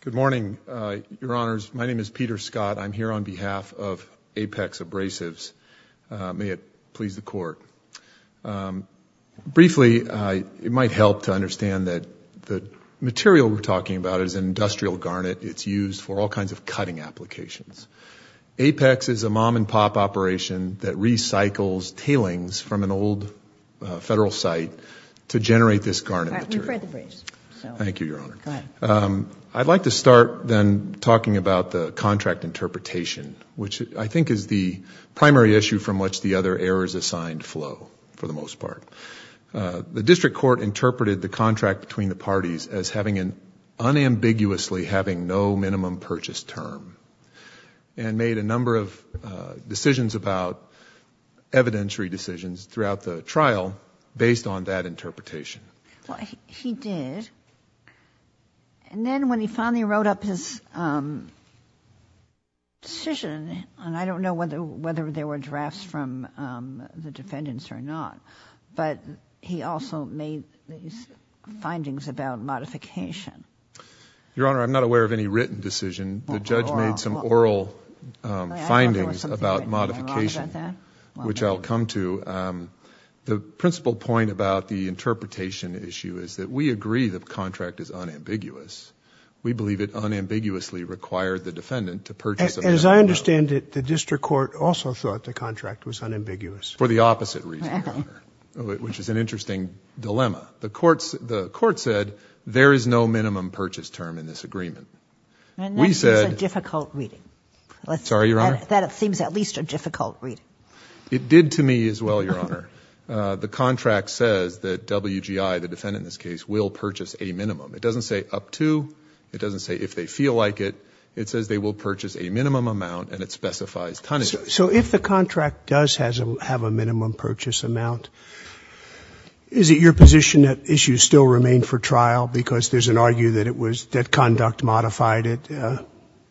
Good morning, Your Honors. My name is Peter Scott. I'm here on behalf of Apex Abrasives. May it please the court. Briefly, it might help to understand that the material we're talking about is an industrial garnet. It's used for all kinds of cutting applications. Apex is a mom-and-pop operation that recycles tailings from an old federal site to generate this garnet. Thank you, Your Honor. I'd like to start then talking about the contract interpretation, which I think is the primary issue from which the other errors assigned flow, for the most part. The district court interpreted the contract between the parties as having an unambiguously having no minimum purchase term and made a number of decisions about evidentiary decisions throughout the trial based on that interpretation. He did. Then when he finally wrote up his decision, and I don't know whether there were drafts from the defendants or not, but he also made these findings about modification. Your Honor, I'm not aware of any written decision. The judge made some oral findings about modification, which I'll come to. The principal point about the interpretation issue is that we agree the contract is unambiguous. We believe it unambiguously required the defendant to purchase. As I understand it, the district court also thought the contract was unambiguous. For the opposite reason, Your Honor, which is an interesting dilemma. The court said, there is no minimum purchase term in this agreement. That seems a difficult reading. Sorry, Your Honor? That seems at least a difficult reading. It did to me as well, Your Honor. The contract says that WGI, the defendant in this case, will purchase a minimum. It doesn't say up to. It doesn't say if they feel like it. It says they will purchase a minimum amount, and it specifies tonnage. So if the contract does have a minimum purchase amount, is it your position that issues still remain for trial because there's an argue that it was that conduct modified it?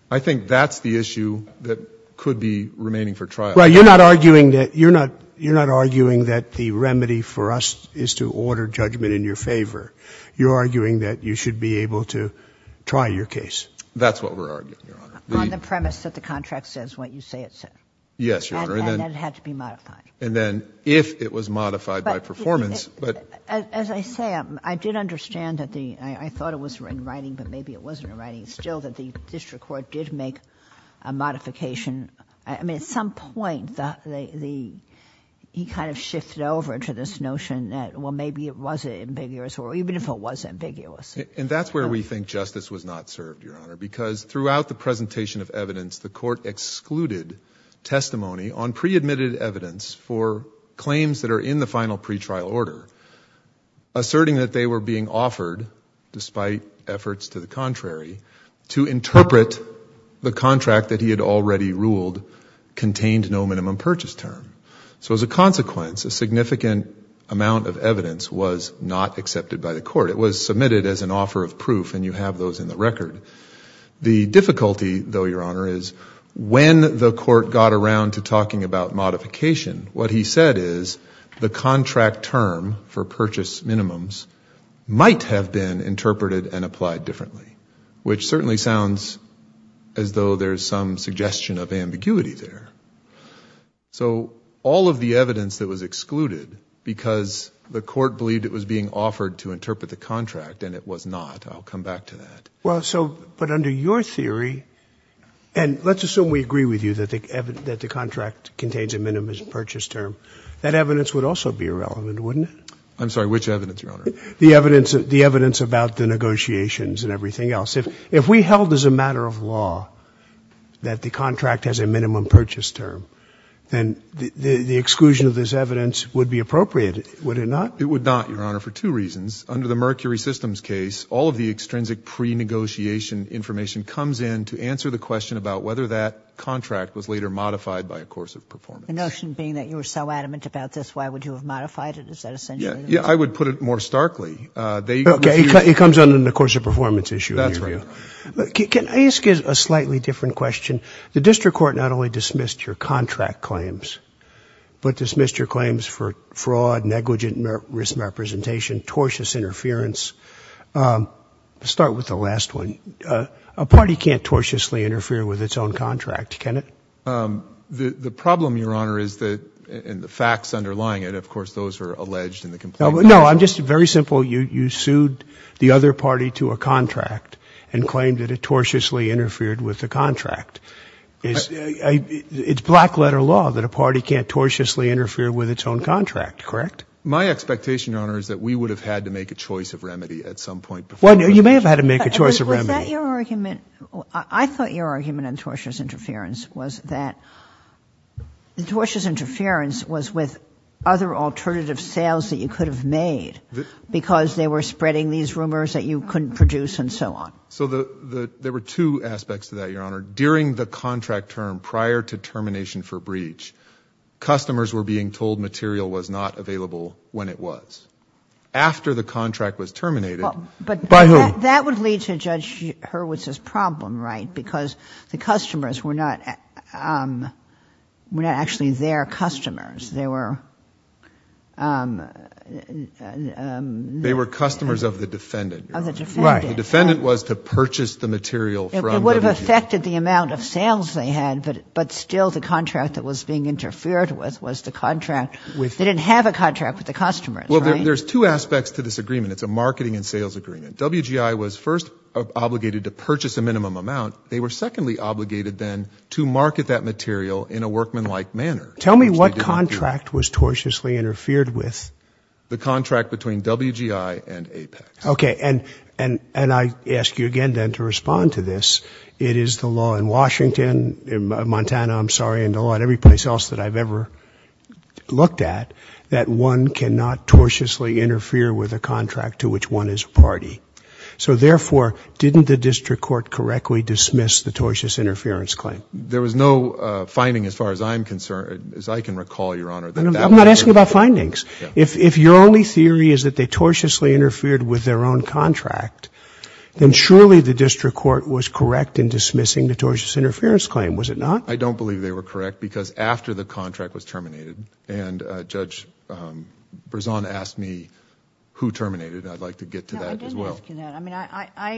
I think that's the issue that could be remaining for trial. Well, you're not arguing that the remedy for us is to order judgment in your favor. You're arguing that you should be able to try your case. That's what we're arguing, Your Honor. On the premise that the contract says what you say it says. Yes, Your Honor. And that it had to be modified. And then if it was modified by performance, but. As I say, I did understand that the, I thought it was in writing, but maybe it wasn't still that the district court did make a modification. I mean, at some point, he kind of shifted over to this notion that, well, maybe it was ambiguous, or even if it was ambiguous. And that's where we think justice was not served, Your Honor, because throughout the presentation of evidence, the court excluded testimony on pre-admitted evidence for claims that are in the final pretrial order, asserting that they were being offered, despite efforts to the contrary, to interpret the contract that he had already ruled contained no minimum purchase term. So as a consequence, a significant amount of evidence was not accepted by the court. It was submitted as an offer of proof, and you have those in the record. The difficulty, though, Your Honor, is when the court got around to talking about modification, what he said is the contract term for purchase minimums might have been interpreted and applied differently, which certainly sounds as though there's some suggestion of ambiguity there. So all of the evidence that was excluded because the court believed it was being offered to interpret the contract, and it was not. I'll come back to that. Well, so, but under your theory, and let's assume we agree with you that the contract contains a minimum purchase term, that evidence would also be irrelevant, wouldn't it? I'm sorry, which evidence, Your Honor? The evidence about the negotiations and everything else. If we held as a matter of law that the contract has a minimum purchase term, then the exclusion of this evidence would be appropriate, would it not? It would not, Your Honor, for two reasons. Under the Mercury Systems case, all of the extrinsic pre-negotiation information comes in to answer the question about whether that contract was later modified by a course of performance. The notion being that you were so adamant about this, why would you have modified it? Is that essentially the reason? Yeah, I would put it more starkly. Okay, it comes under the course of performance issue. That's right. Can I ask you a slightly different question? The district court not only dismissed your contract claims, but dismissed your claims for fraud, negligent risk representation, tortious interference. Let's start with the last one. A party can't tortiously interfere with its own contract, can it? The problem, Your Honor, is that, and the facts underlying it, of course, those are alleged in the complaint. No, I'm just very simple. You sued the other party to a contract and claimed that it tortiously interfered with the contract. It's black letter law that a party can't tortiously interfere with its own contract, correct? My expectation, Your Honor, is that we would have had to make a choice of remedy at some point. Well, you may have had to make a choice of remedy. Was that your argument? I thought your argument on tortious interference was that the tortious interference was with other alternative sales that you could have made because they were spreading these rumors that you couldn't produce and so on. So there were two aspects to that, Your Honor. During the contract term, prior to termination for breach, customers were being told material was not available when it was. After the contract was terminated, by whom? That would lead to Judge Hurwitz's problem, right? Because the customers were not actually their customers. They were customers of the defendant, Your Honor. Of the defendant. The defendant was to purchase the material from WGU. It would have affected the amount of sales they had, but still the contract that was being interfered with was the contract. They didn't have a contract with the customers, right? There's two aspects to this agreement. It's a marketing and sales agreement. WGI was first obligated to purchase a minimum amount. They were secondly obligated then to market that material in a workmanlike manner. Tell me what contract was tortiously interfered with. The contract between WGI and Apex. Okay, and I ask you again then to respond to this. It is the law in Washington, in Montana, I'm sorry, and the law in every place else that I've ever looked at, that one cannot tortiously interfere with a contract to which one is a party. So therefore, didn't the district court correctly dismiss the tortious interference claim? There was no finding as far as I'm concerned, as I can recall, Your Honor. I'm not asking about findings. If your only theory is that they tortiously interfered with their own contract, then surely the district court was correct in dismissing the tortious interference claim. Was it not? I don't believe they were correct because after the contract was terminated and Judge Berzon asked me who terminated, I'd like to get to that as well. No, I didn't ask you that. I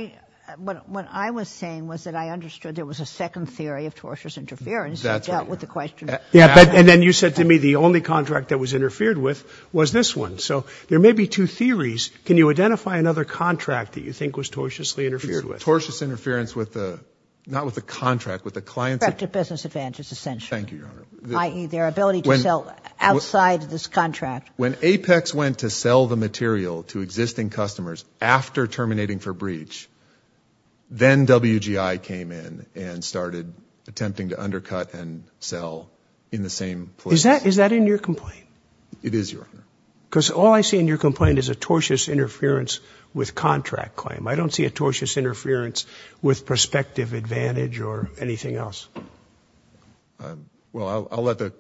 mean, what I was saying was that I understood there was a second theory of tortious interference that dealt with the question. Yeah, and then you said to me the only contract that was interfered with was this one. So there may be two theories. Can you identify another contract that you think was tortiously interfered with? Tortious interference with the, not with the contract, with the client. Corrective business advantage is essential. Thank you, Your Honor. I.e. their ability to sell outside this contract. When Apex went to sell the material to existing customers after terminating for breach, then WGI came in and started attempting to undercut and sell in the same place. Is that in your complaint? It is, Your Honor. Because all I see in your complaint is a tortious interference with contract claim. I don't see a tortious interference with prospective advantage or anything else. Well, I'll let the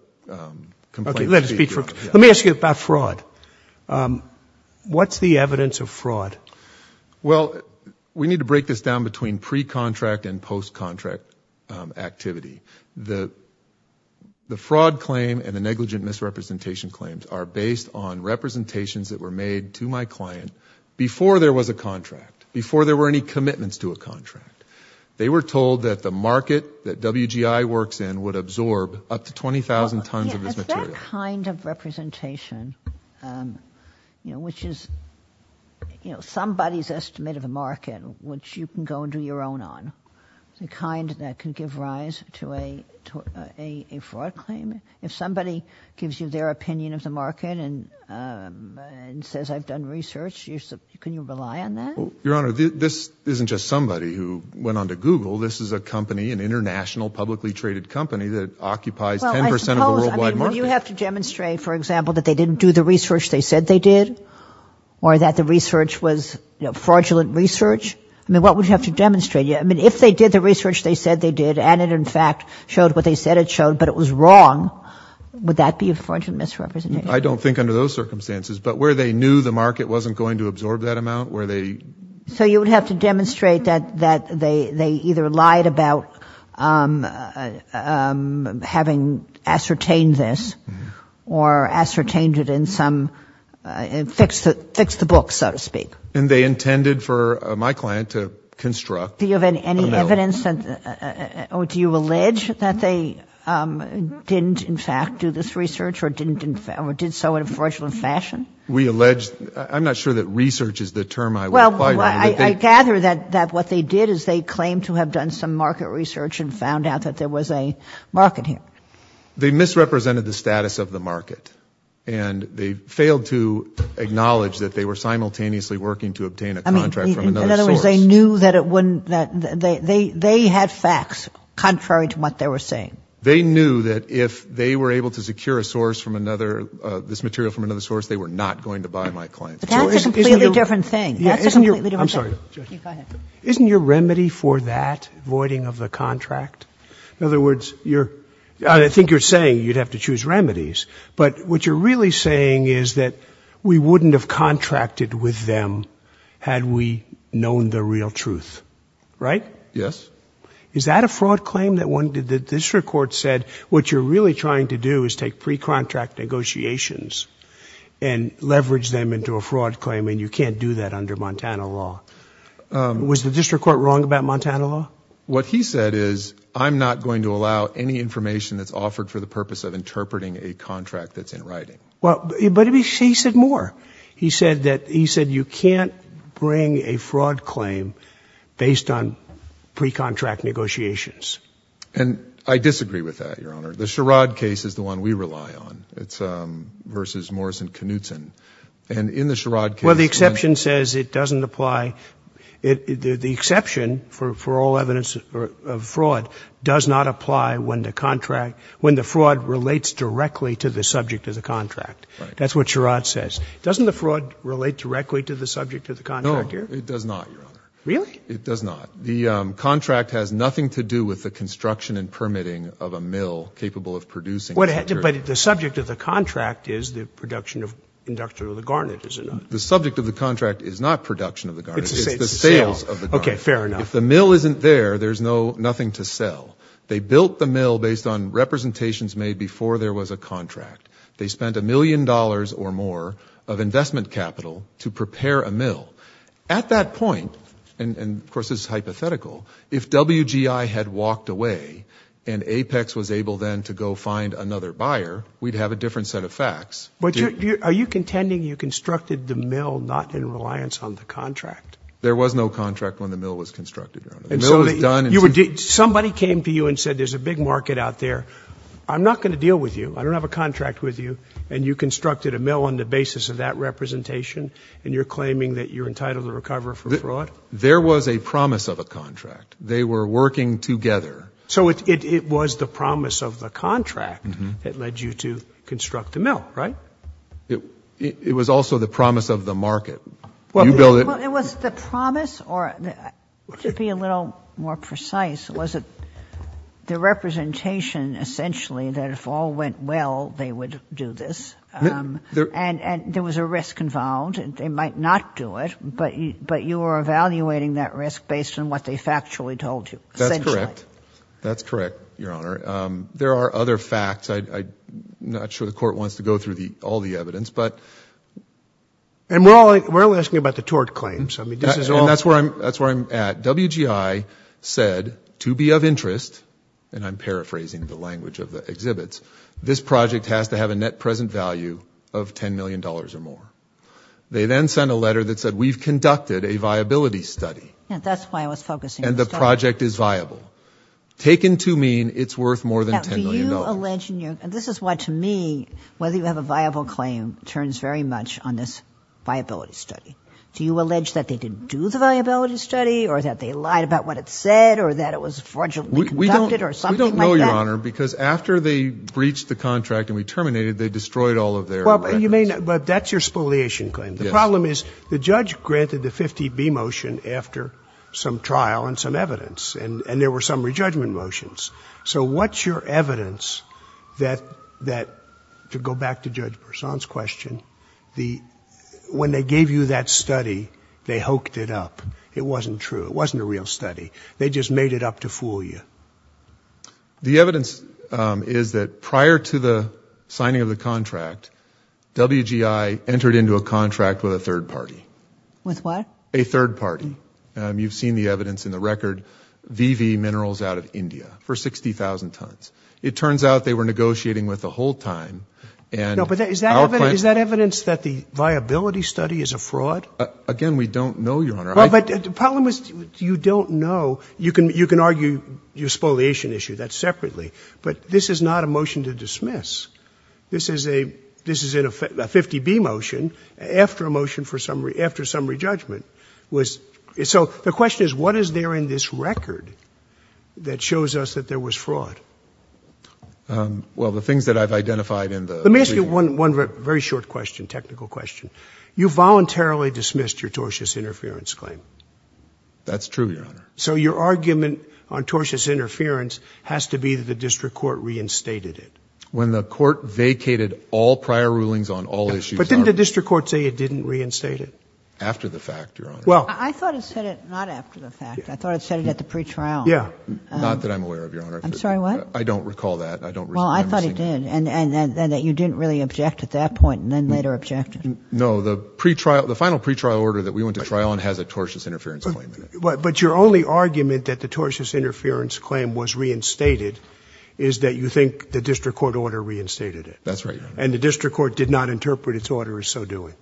complaint speak for itself. Let me ask you about fraud. What's the evidence of fraud? Well, we need to break this down between pre-contract and post-contract activity. The fraud claim and the negligent misrepresentation claims are based on representations that were made to my client before there was a contract, before there were any commitments to a contract. They were told that the market that WGI works in would absorb up to 20,000 tons of this material. Is that kind of representation, you know, which is, you know, somebody's estimate of a market which you can go and do your own on, the kind that can give rise to a fraud claim? If somebody gives you their opinion of the market and says, I've done research, can you rely on that? Well, Your Honor, this isn't just somebody who went on to Google. This is a company, an international publicly traded company that occupies 10% of the worldwide market. Well, I suppose, I mean, would you have to demonstrate, for example, that they didn't do the research they said they did? Or that the research was, you know, fraudulent research? I mean, what would you have to demonstrate? I mean, if they did the research they said they did, and it in fact showed what they said it showed, but it was wrong, would that be a fraudulent misrepresentation? I don't think under those circumstances, but where they knew the market wasn't going to absorb that amount, where they... So you would have to demonstrate that they either lied about having ascertained this or ascertained it in some, fixed the book, so to speak. And they intended for my client to construct... Do you have any evidence that, or do you allege that they didn't in fact do this research or didn't, or did so in a fraudulent fashion? We allege, I'm not sure that research is the term I would... Well, I gather that what they did is they claimed to have done some market research and found out that there was a market here. They misrepresented the status of the market. And they failed to acknowledge that they were simultaneously working to obtain a contract from another source. They knew that it wouldn't, that they had facts contrary to what they were saying. They knew that if they were able to secure a source from another, this material from another source, they were not going to buy my client. But that's a completely different thing. Yeah, isn't your... I'm sorry. Isn't your remedy for that voiding of the contract? In other words, you're, I think you're saying you'd have to choose remedies, but what you're really saying is that we wouldn't have contracted with them had we known the real truth, right? Yes. Is that a fraud claim that the district court said, what you're really trying to do is take pre-contract negotiations and leverage them into a fraud claim, and you can't do that under Montana law? Was the district court wrong about Montana law? What he said is, I'm not going to allow any information that's offered for the purpose of interpreting a contract that's in writing. Well, but he said more. He said that, he said you can't bring a fraud claim based on pre-contract negotiations. And I disagree with that, Your Honor. The Sherrod case is the one we rely on. It's versus Morris and Knutson. And in the Sherrod case... Well, the exception says it doesn't apply. The exception for all evidence of fraud does not apply when the contract, when the fraud relates directly to the subject of the contract. That's what Sherrod says. Doesn't the fraud relate directly to the subject of the contract? No, it does not, Your Honor. Really? It does not. The contract has nothing to do with the construction and permitting of a mill capable of producing material. But the subject of the contract is the production of, production of the garnet, is it not? The subject of the contract is not production of the garnet. It's the sales of the garnet. Okay, fair enough. If the mill isn't there, there's nothing to sell. They built the mill based on representations made before there was a contract. They spent a million dollars or more of investment capital to prepare a mill. At that point, and of course this is hypothetical, if WGI had walked away and APEX was able then to go find another buyer, we'd have a different set of facts. Are you contending you constructed the mill not in reliance on the contract? There was no contract when the mill was constructed, Your Honor. And so you would... Somebody came to you and said, there's a big market out there. I'm not going to deal with you. I don't have a contract with you. And you constructed a mill on the basis of that representation. And you're claiming that you're entitled to recover for fraud? There was a promise of a contract. They were working together. So it was the promise of the contract that led you to construct the mill, right? It was also the promise of the market. Well, it was the promise or, to be a little more precise, was it the representation essentially that if all went well, they would do this. And there was a risk involved and they might not do it, but you were evaluating that risk based on what they factually told you. That's correct. That's correct, Your Honor. There are other facts. I'm not sure the court wants to go through all the evidence, but... And we're only asking about the tort claims. I mean, this is all... That's where I'm at. WGI said, to be of interest, and I'm paraphrasing the language of the exhibits, this project has to have a net present value of $10 million or more. They then sent a letter that said, we've conducted a viability study. And that's why I was focusing on the study. And the project is viable. Taken to mean it's worth more than $10 million. This is why, to me, whether you have a viable claim turns very much on this viability study. Do you allege that they didn't do the viability study, or that they lied about what it said, or that it was fraudulently conducted, or something like that? We don't know, Your Honor, because after they breached the contract and we terminated, they destroyed all of their records. You may not, but that's your spoliation claim. The problem is the judge granted the 50B motion after some trial and some evidence, and there were some re-judgment motions. So what's your evidence that, to go back to Judge Persaud's question, the, when they gave you that study, they hoked it up. It wasn't true. It wasn't a real study. They just made it up to fool you. The evidence is that prior to the signing of the contract, WGI entered into a contract with a third party. With what? A third party. You've seen the evidence in the record. VV Minerals out of India for 60,000 tons. It turns out they were negotiating with the whole time. No, but is that evidence that the viability study is a fraud? Again, we don't know, Your Honor. Well, but the problem is you don't know. You can argue your spoliation issue. That's separately. But this is not a motion to dismiss. This is a, this is a 50B motion after a motion for summary, after summary judgment. So the question is, what is there in this record that shows us that there was fraud? Um, well, the things that I've identified in the... Let me ask you one, one very short question, technical question. You voluntarily dismissed your tortious interference claim. That's true, Your Honor. So your argument on tortious interference has to be that the district court reinstated it. When the court vacated all prior rulings on all issues... But didn't the district court say it didn't reinstate it? After the fact, Your Honor. Well... I thought it said it not after the fact. Yeah. Not that I'm aware of, Your Honor. I'm sorry, what? I don't recall that. I don't... Well, I thought it did. And that you didn't really object at that point and then later objected. No, the pre-trial, the final pre-trial order that we went to trial on has a tortious interference claim in it. But your only argument that the tortious interference claim was reinstated is that you think the district court order reinstated it. That's right, Your Honor. And the district court did not interpret its order as so doing.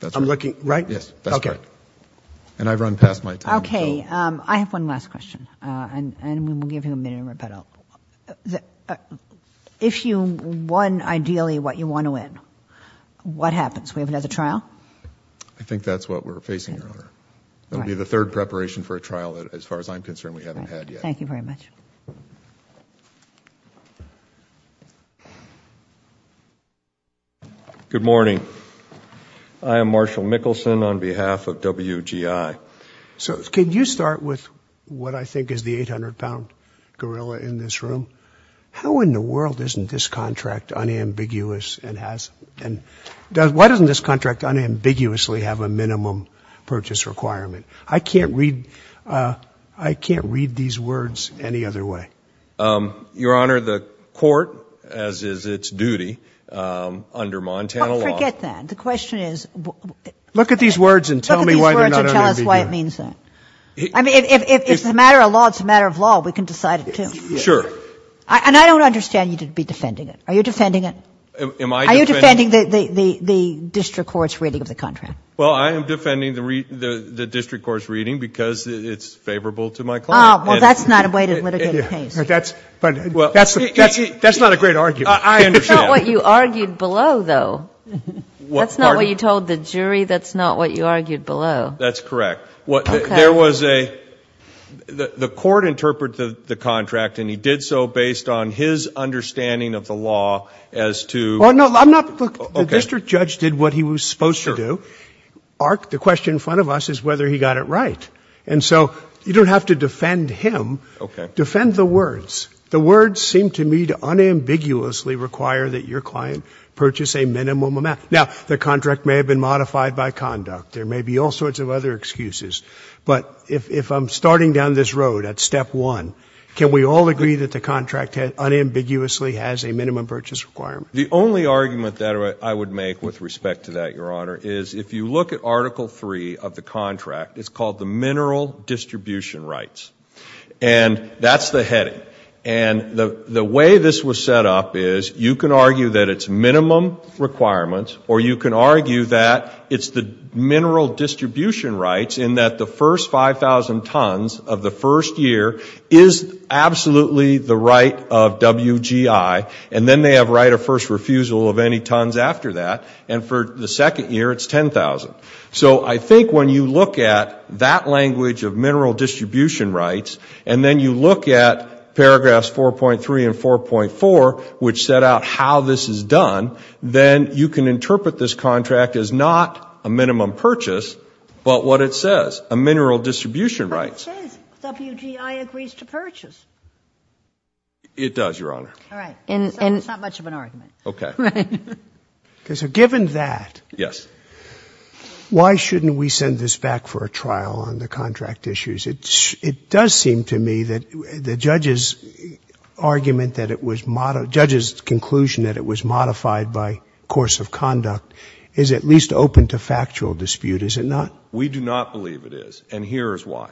That's right. I'm looking, right? Yes, that's right. And I've run past my time, so... I have one last question and we'll give you a minute to rebuttal. If you won ideally what you want to win, what happens? We have another trial? I think that's what we're facing, Your Honor. It'll be the third preparation for a trial that, as far as I'm concerned, we haven't had yet. Thank you very much. Good morning. I am Marshall Mickelson on behalf of WGI. So can you start with what I think is the 800-pound gorilla in this room? How in the world isn't this contract unambiguous and has... And why doesn't this contract unambiguously have a minimum purchase requirement? I can't read these words any other way. Your Honor, the court, as is its duty under Montana law... Forget that. The question is... Look at these words and tell me why they're not unambiguous. Look at these words and tell us why it means that. I mean, if it's a matter of law, it's a matter of law. We can decide it, too. Sure. And I don't understand you to be defending it. Are you defending it? Are you defending the district court's reading of the contract? Well, I am defending the district court's reading because it's favorable to my client. Oh, well, that's not a way to litigate a case. That's not a great argument. I understand. That's not what you argued below, though. That's not what you told the jury. That's not what you argued below. That's correct. The court interpreted the contract, and he did so based on his understanding of the law as to... Oh, no, I'm not... Look, the district judge did what he was supposed to do. Arc, the question in front of us is whether he got it right. And so you don't have to defend him. OK. Defend the words. The words seem to me to unambiguously require that your client purchase a minimum amount. Now, the contract may have been modified by conduct. There may be all sorts of other excuses. But if I'm starting down this road at step one, can we all agree that the contract unambiguously has a minimum purchase requirement? The only argument that I would make with respect to that, Your Honor, is if you look at Article III of the contract, it's called the mineral distribution rights. And that's the heading. And the way this was set up is you can argue that it's minimum requirements, or you can argue that it's the mineral distribution rights in that the first 5,000 tons of the first year is absolutely the right of WGI. And then they have right of first refusal of any tons after that. And for the second year, it's 10,000. So I think when you look at that language of mineral distribution rights, and then you look at paragraphs 4.3 and 4.4, which set out how this is done, then you can interpret this contract as not a minimum purchase, but what it says, a mineral distribution rights. But it says WGI agrees to purchase. It does, Your Honor. All right. And it's not much of an argument. Okay. Okay. So given that. Yes. Why shouldn't we send this back for a trial on the contract issues? It does seem to me that the judge's argument that it was, judge's conclusion that it was modified by course of conduct is at least open to factual dispute, is it not? We do not believe it is. And here is why.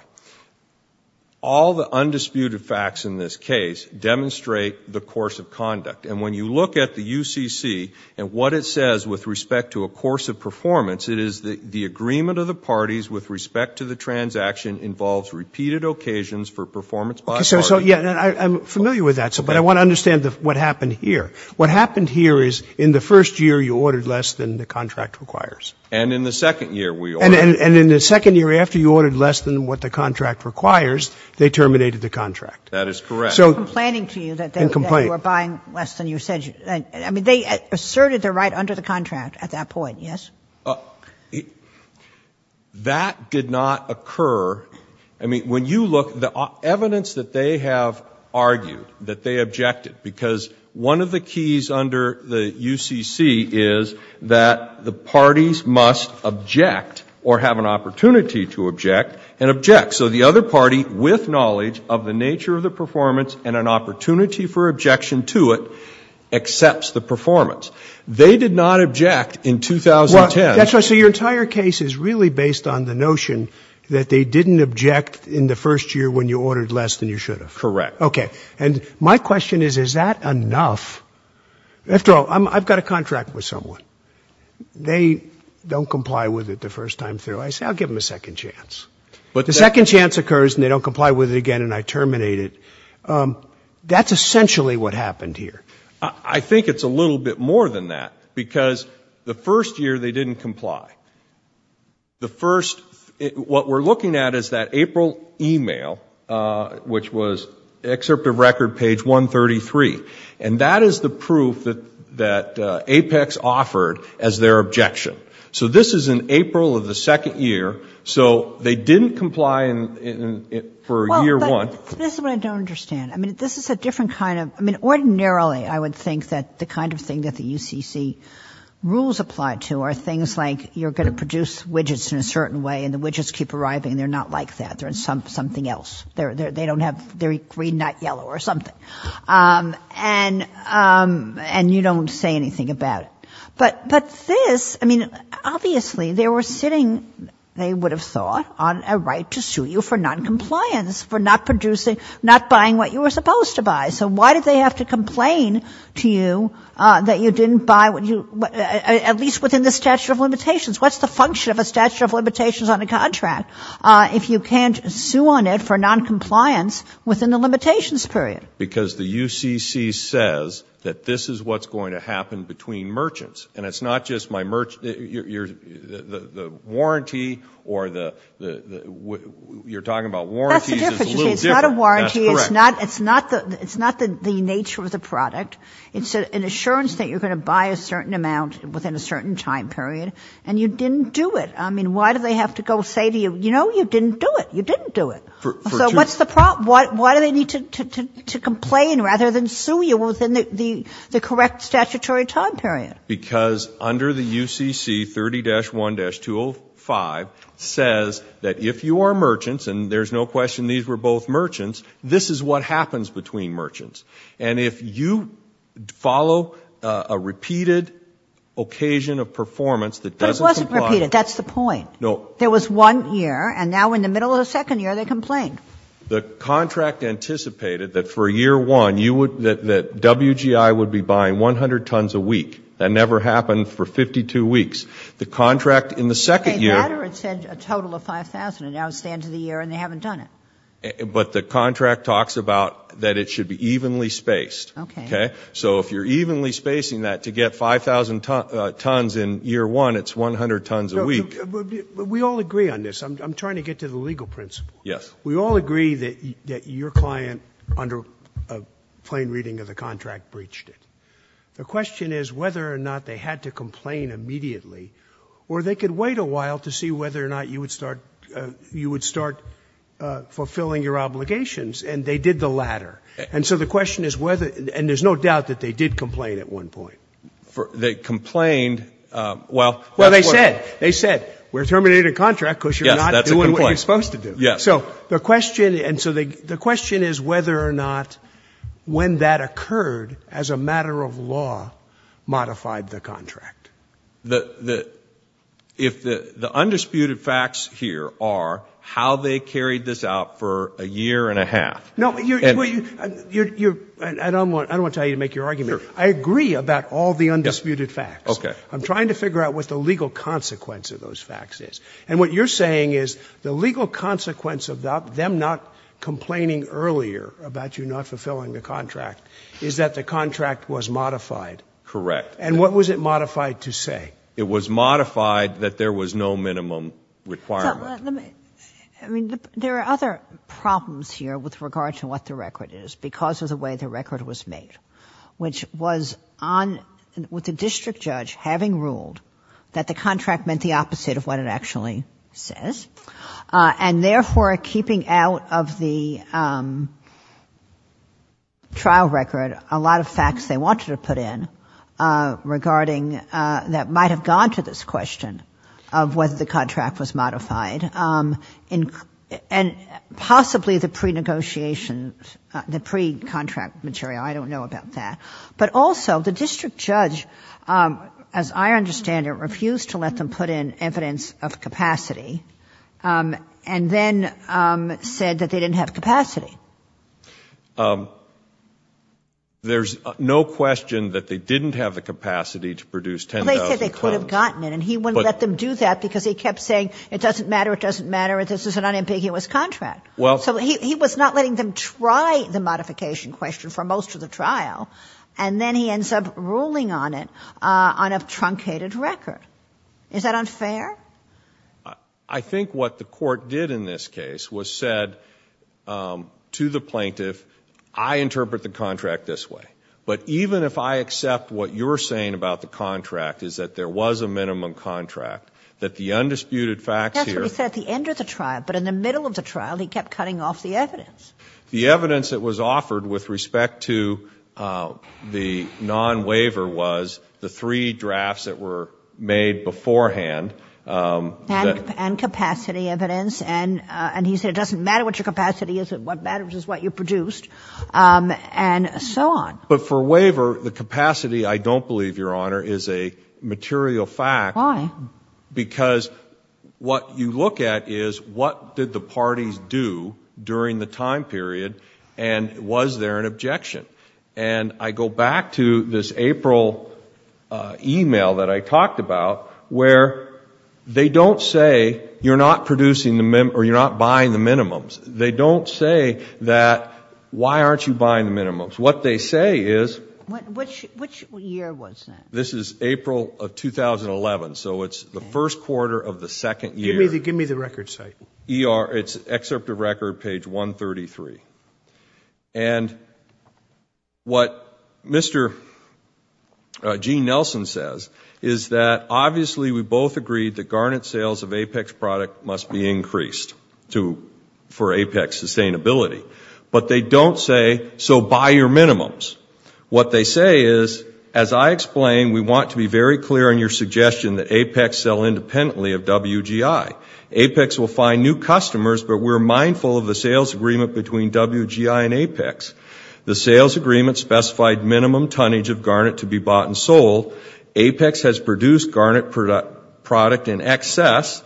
All the undisputed facts in this case demonstrate the course of conduct. And when you look at the UCC and what it says with respect to a course of performance, it is that the agreement of the parties with respect to the transaction involves repeated occasions for performance by parties. So, yeah, I'm familiar with that. But I want to understand what happened here. What happened here is in the first year, you ordered less than the contract requires. And in the second year, we ordered. And in the second year, after you ordered less than what the contract requires, they terminated the contract. That is correct. In complaining to you that they were buying less than you said. I mean, they asserted their right under the contract at that point, yes? Well, that did not occur. I mean, when you look, the evidence that they have argued, that they objected, because one of the keys under the UCC is that the parties must object or have an opportunity to object and object. So the other party, with knowledge of the nature of the performance and an opportunity for objection to it, accepts the performance. They did not object in 2010. That's right. So your entire case is really based on the notion that they didn't object in the first year when you ordered less than you should have. Correct. Okay. And my question is, is that enough? After all, I've got a contract with someone. They don't comply with it the first time through. I say, I'll give them a second chance. But the second chance occurs and they don't comply with it again and I terminate it. That's essentially what happened here. I think it's a little bit more than that because the first year they didn't comply. The first, what we're looking at is that April email, which was excerpt of record page 133. And that is the proof that APEX offered as their objection. So this is in April of the second year. So they didn't comply for year one. This is what I don't understand. I mean, this is a different kind of, I mean, ordinarily I would think that the kind of thing that the UCC rules apply to are things like, you're going to produce widgets in a certain way and the widgets keep arriving. They're not like that. They're in something else. They don't have, they're green, not yellow or something. And you don't say anything about it. But this, I mean, obviously they were sitting, they would have thought, on a right to sue you for noncompliance for not producing, not buying what you were supposed to buy. So why did they have to complain to you that you didn't buy, at least within the statute of limitations? What's the function of a statute of limitations on a contract if you can't sue on it for noncompliance within the limitations period? Because the UCC says that this is what's going to happen between merchants. And it's not just my, the warranty or the, you're talking about warranties. That's the difference. It's not a warranty. It's not the nature of the product. It's an assurance that you're going to buy a certain amount within a certain time period. And you didn't do it. I mean, why do they have to go say to you, you know, you didn't do it. You didn't do it. So what's the problem? Why do they need to complain rather than sue you within the correct statutory time period? Because under the UCC 30-1-205 says that if you are merchants, and there's no question these were both merchants, this is what happens between merchants. And if you follow a repeated occasion of performance that doesn't comply. But it wasn't repeated. That's the point. No. There was one year. And now in the middle of the second year, they complain. The contract anticipated that for year one, you would, that WGI would be buying 100 tons a week. That never happened for 52 weeks. The contract in the second year. They had said a total of 5,000. And now it's the end of the year and they haven't done it. But the contract talks about that it should be evenly spaced. Okay. So if you're evenly spacing that to get 5,000 tons in year one, it's 100 tons a week. We all agree on this. I'm trying to get to the legal principle. Yes. We all agree that your client under a plain reading of the contract breached it. The question is whether or not they had to complain immediately or they could wait a while to see whether or not you would start fulfilling your obligations. And they did the latter. And so the question is whether, and there's no doubt that they did complain at one point. They complained, well. Well, they said, they said, we're terminating a contract because you're not doing what you're supposed to do. Yes. So the question, and so the question is whether or not when that occurred as a matter of law modified the contract. The, the, if the, the undisputed facts here are how they carried this out for a year and a half. No, you're, you're, you're, I don't want, I don't want to tell you to make your argument. I agree about all the undisputed facts. Okay. I'm trying to figure out what the legal consequence of those facts is. And what you're saying is the legal consequence of them not complaining earlier about you not fulfilling the contract is that the contract was modified. Correct. And what was it modified to say? It was modified that there was no minimum requirement. I mean, there are other problems here with regard to what the record is because of the way the record was made, which was on with the district judge having ruled that the contract meant the opposite of what it actually says. And therefore keeping out of the trial record, a lot of facts they wanted to put in. Regarding that might've gone to this question of whether the contract was modified and possibly the pre-negotiation, the pre-contract material. I don't know about that, but also the district judge, as I understand it, refused to let them put in evidence of capacity and then said that they didn't have capacity. There's no question that they didn't have the capacity to produce 10,000 tons. But they said they could have gotten it and he wouldn't let them do that because he kept saying, it doesn't matter, it doesn't matter, this is an unambiguous contract. Well. So he was not letting them try the modification question for most of the trial. And then he ends up ruling on it on a truncated record. Is that unfair? I think what the court did in this case was said to the plaintiff, I interpret the contract this way. But even if I accept what you're saying about the contract is that there was a minimum contract, that the undisputed facts here. That's what he said at the end of the trial, but in the middle of the trial, he kept cutting off the evidence. The evidence that was offered with respect to the non-waiver was the three drafts that were made beforehand. And capacity evidence. And he said, it doesn't matter what your capacity is, what matters is what you produced. And so on. But for waiver, the capacity, I don't believe, Your Honor, is a material fact. Why? Because what you look at is what did the parties do during the time period? And was there an objection? And I go back to this April email that I talked about, where they don't say, you're not producing the minimum, or you're not buying the minimums. They don't say that, why aren't you buying the minimums? What they say is. Which year was that? This is April of 2011. So it's the first quarter of the second year. Give me the record site. It's excerpt of record, page 133. And what Mr. Gene Nelson says is that, obviously, we both agreed that garnet sales of APEX product must be increased for APEX sustainability. But they don't say, so buy your minimums. What they say is, as I explained, we want to be very clear in your suggestion that APEX sell independently of WGI. APEX will find new customers, but we're mindful of the sales agreement between WGI and APEX. The sales agreement specified minimum tonnage of garnet to be bought and sold. APEX has produced garnet product in excess.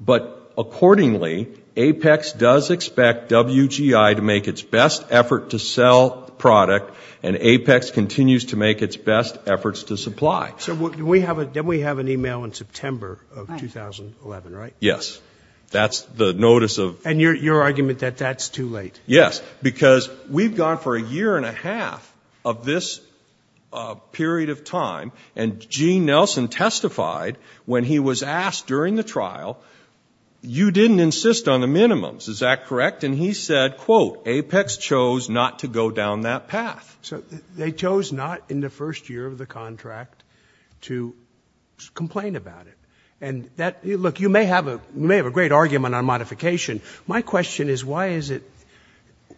But accordingly, APEX does expect WGI to make its best effort to sell product. And APEX continues to make its best efforts to supply. So then we have an email in September of 2011, right? Yes. That's the notice of- And your argument that that's too late. Yes. Because we've gone for a year and a half of this period of time, and Gene Nelson testified when he was asked during the trial, you didn't insist on the minimums. Is that correct? And he said, quote, APEX chose not to go down that path. So they chose not in the first year of the contract to complain about it. And look, you may have a great argument on modification. My question is, why is it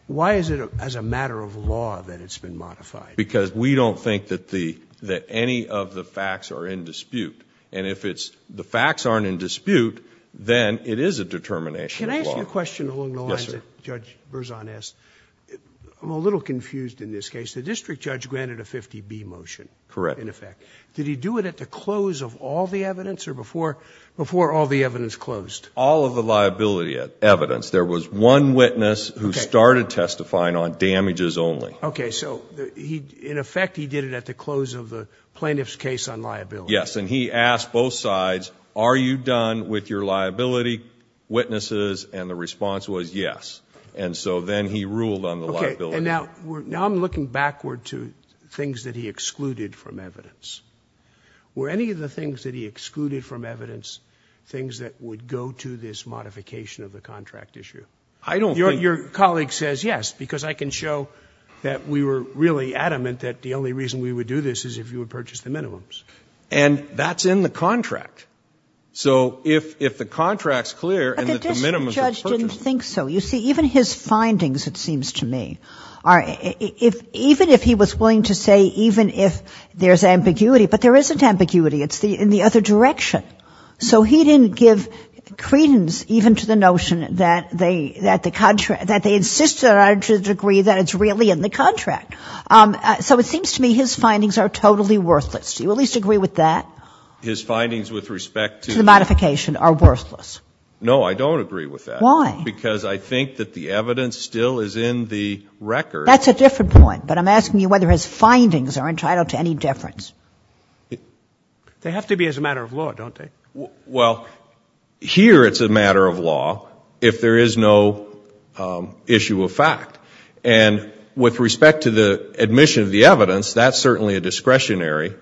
as a matter of law that it's been modified? Because we don't think that any of the facts are in dispute. And if the facts aren't in dispute, then it is a determination of law. Can I ask you a question along the lines that Judge Berzon asked? I'm a little confused in this case. The district judge granted a 50B motion. Correct. In effect. Did he do it at the close of all the evidence or before all the evidence closed? All of the liability evidence. There was one witness who started testifying on damages only. Okay. So in effect, he did it at the close of the plaintiff's case on liability. Yes. And he asked both sides, are you done with your liability witnesses? And the response was yes. And so then he ruled on the liability. Okay. And now I'm looking backward to things that he excluded from evidence. Were any of the things that he excluded from evidence things that would go to this modification of the contract issue? I don't think. Your colleague says yes, because I can show that we were really adamant that the only reason we would do this is if you would purchase the minimums. And that's in the contract. So if the contract's clear and the minimums are purchased. But the district judge didn't think so. You see, even his findings, it seems to me, even if he was willing to say even if there's ambiguity, but there isn't ambiguity. It's in the other direction. So he didn't give credence even to the notion that they insist to the degree that it's really in the contract. So it seems to me his findings are totally worthless. Do you at least agree with that? His findings with respect to the modification are worthless. No, I don't agree with that. Why? Because I think that the evidence still is in the record. That's a different point. But I'm asking you whether his findings are entitled to any difference. They have to be as a matter of law, don't they? Well, here it's a matter of law if there is no issue of fact. And with respect to the admission of the evidence, that's certainly a discretionary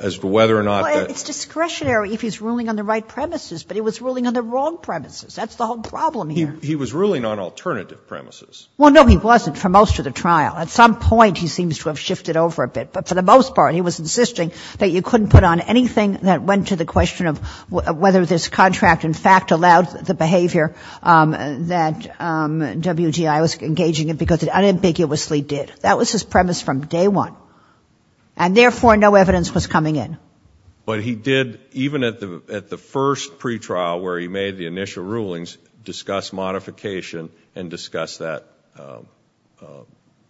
as to whether or not that. It's discretionary if he's ruling on the right premises. But he was ruling on the wrong premises. That's the whole problem here. He was ruling on alternative premises. Well, no, he wasn't for most of the trial. At some point, he seems to have shifted over a bit. But for the most part, he was insisting that you couldn't put on anything that went to the question of whether this contract in fact allowed the behavior that WGI was engaging in because it unambiguously did. That was his premise from day one. And therefore, no evidence was coming in. But he did, even at the first pretrial where he made the initial rulings, discuss modification, and discuss that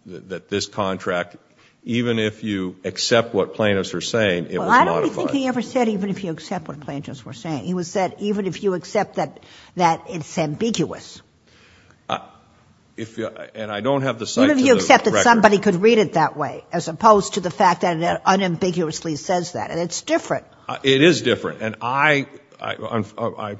this contract, even if you accept what plaintiffs were saying, it was modified. Well, I don't think he ever said even if you accept what plaintiffs were saying. He said even if you accept that it's ambiguous. And I don't have the sight to the record. Even if you accept that somebody could read it that way, as opposed to the fact that it unambiguously says that. And it's different. It is different. I'm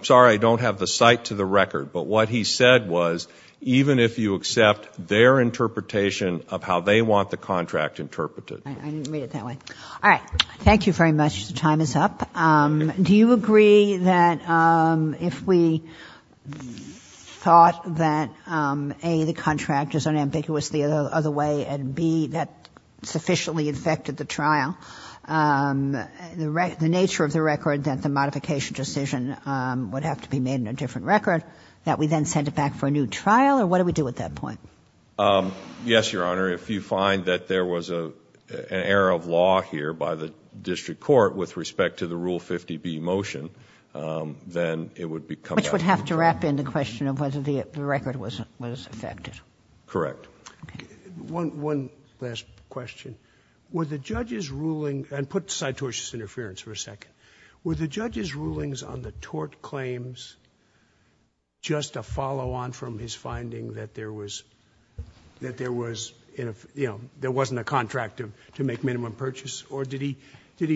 sorry. I don't have the sight to the record. But what he said was, even if you accept their interpretation of how they want the contract interpreted. I didn't mean it that way. All right. Thank you very much. The time is up. Do you agree that if we thought that, A, the contract is unambiguously the other way, and, B, that sufficiently affected the trial, the nature of the record that the modification decision would have to be made in a different record, that we then send it back for a new trial? Or what do we do at that point? Yes, Your Honor. If you find that there was an error of law here by the district court with respect to the Rule 50B motion, then it would be come back. Which would have to wrap in the question of whether the record was affected. Correct. One last question. Were the judge's ruling, and put citotious interference for a second. Were the judge's rulings on the tort claims just a follow-on from his finding that there was, you know, there wasn't a contract to make minimum purchase? Or did he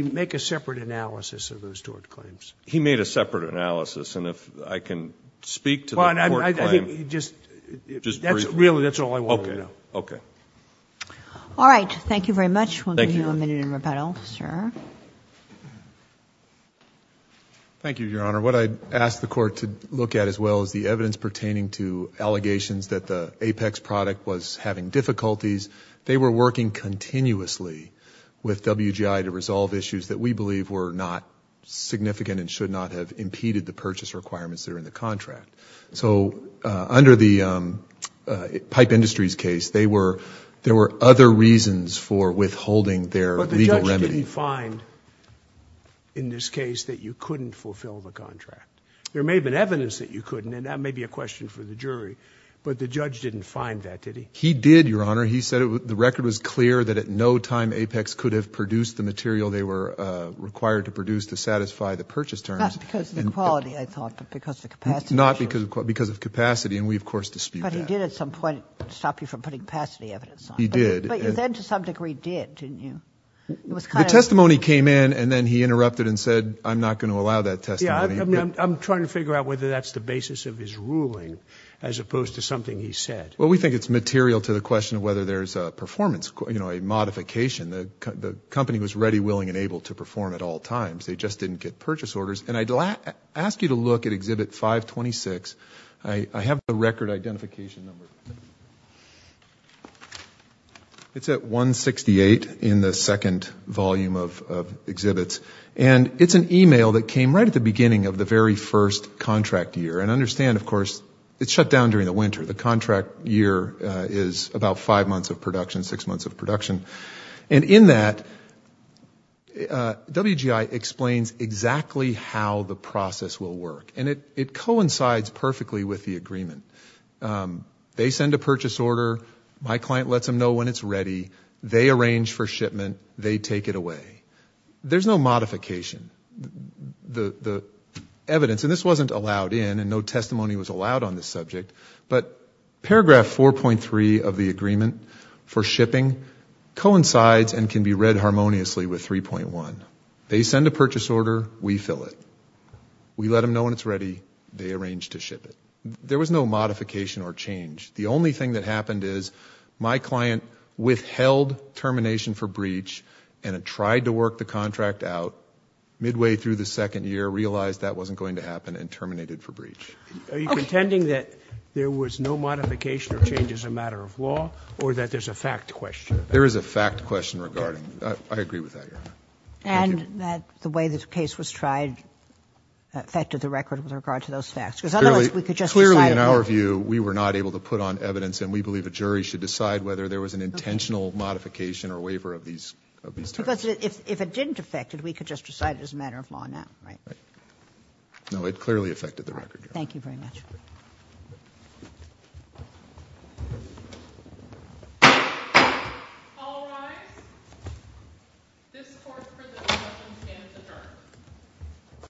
make a separate analysis of those tort claims? He made a separate analysis. And if I can speak to the court claim. Just briefly. Really, that's all I wanted to know. Okay. All right. Thank you very much. We'll give you a minute in rebuttal, sir. Thank you, Your Honor. What I'd ask the court to look at as well is the evidence pertaining to allegations that the Apex product was having difficulties. They were working continuously with WGI to resolve issues that we believe were not significant and should not have impeded the purchase requirements that are in the contract. So under the Pipe Industries case, there were other reasons for withholding their legal remedy. But the judge didn't find in this case that you couldn't fulfill the contract. There may have been evidence that you couldn't, and that may be a question for the jury. But the judge didn't find that, did he? He did, Your Honor. He said the record was clear that at no time Apex could have produced the material they were required to produce to satisfy the purchase terms. Not because of the quality, I thought, but because of the capacity. Not because of capacity, and we, of course, dispute that. But he did at some point stop you from putting capacity evidence on it. He did. But you then to some degree did, didn't you? The testimony came in, and then he interrupted and said, I'm not going to allow that testimony. I'm trying to figure out whether that's the basis of his ruling as opposed to something he said. Well, we think it's material to the question of whether there's a performance, you know, a modification. The company was ready, willing, and able to perform at all times. They just didn't get purchase orders. And I'd ask you to look at Exhibit 526. I have the record identification number. It's at 168 in the second volume of exhibits. And it's an email that came right at the beginning of the very first contract year. And understand, of course, it's shut down during the winter. The contract year is about five months of production, six months of production. And in that, WGI explains exactly how the process will work. And it coincides perfectly with the agreement. They send a purchase order. My client lets them know when it's ready. They arrange for shipment. They take it away. There's no modification. The evidence, and this wasn't allowed in, and no testimony was allowed on this subject. But paragraph 4.3 of the agreement for shipping coincides and can be read harmoniously with 3.1. They send a purchase order. We fill it. We let them know when it's ready. They arrange to ship it. There was no modification or change. The only thing that happened is my client withheld termination for breach, and it tried to work the contract out. terminated for breach. Are you contending that there was no modification or change as a matter of law, or that there's a fact question? There is a fact question regarding it. I agree with that, Your Honor. And that the way this case was tried affected the record with regard to those facts, because otherwise we could just decide. Clearly, in our view, we were not able to put on evidence, and we believe a jury should decide whether there was an intentional modification or waiver of these terms. Because if it didn't affect it, we could just decide it as a matter of law now, right? No, it clearly affected the record, Your Honor. Thank you very much. All rise. This court for the discussion stands adjourned.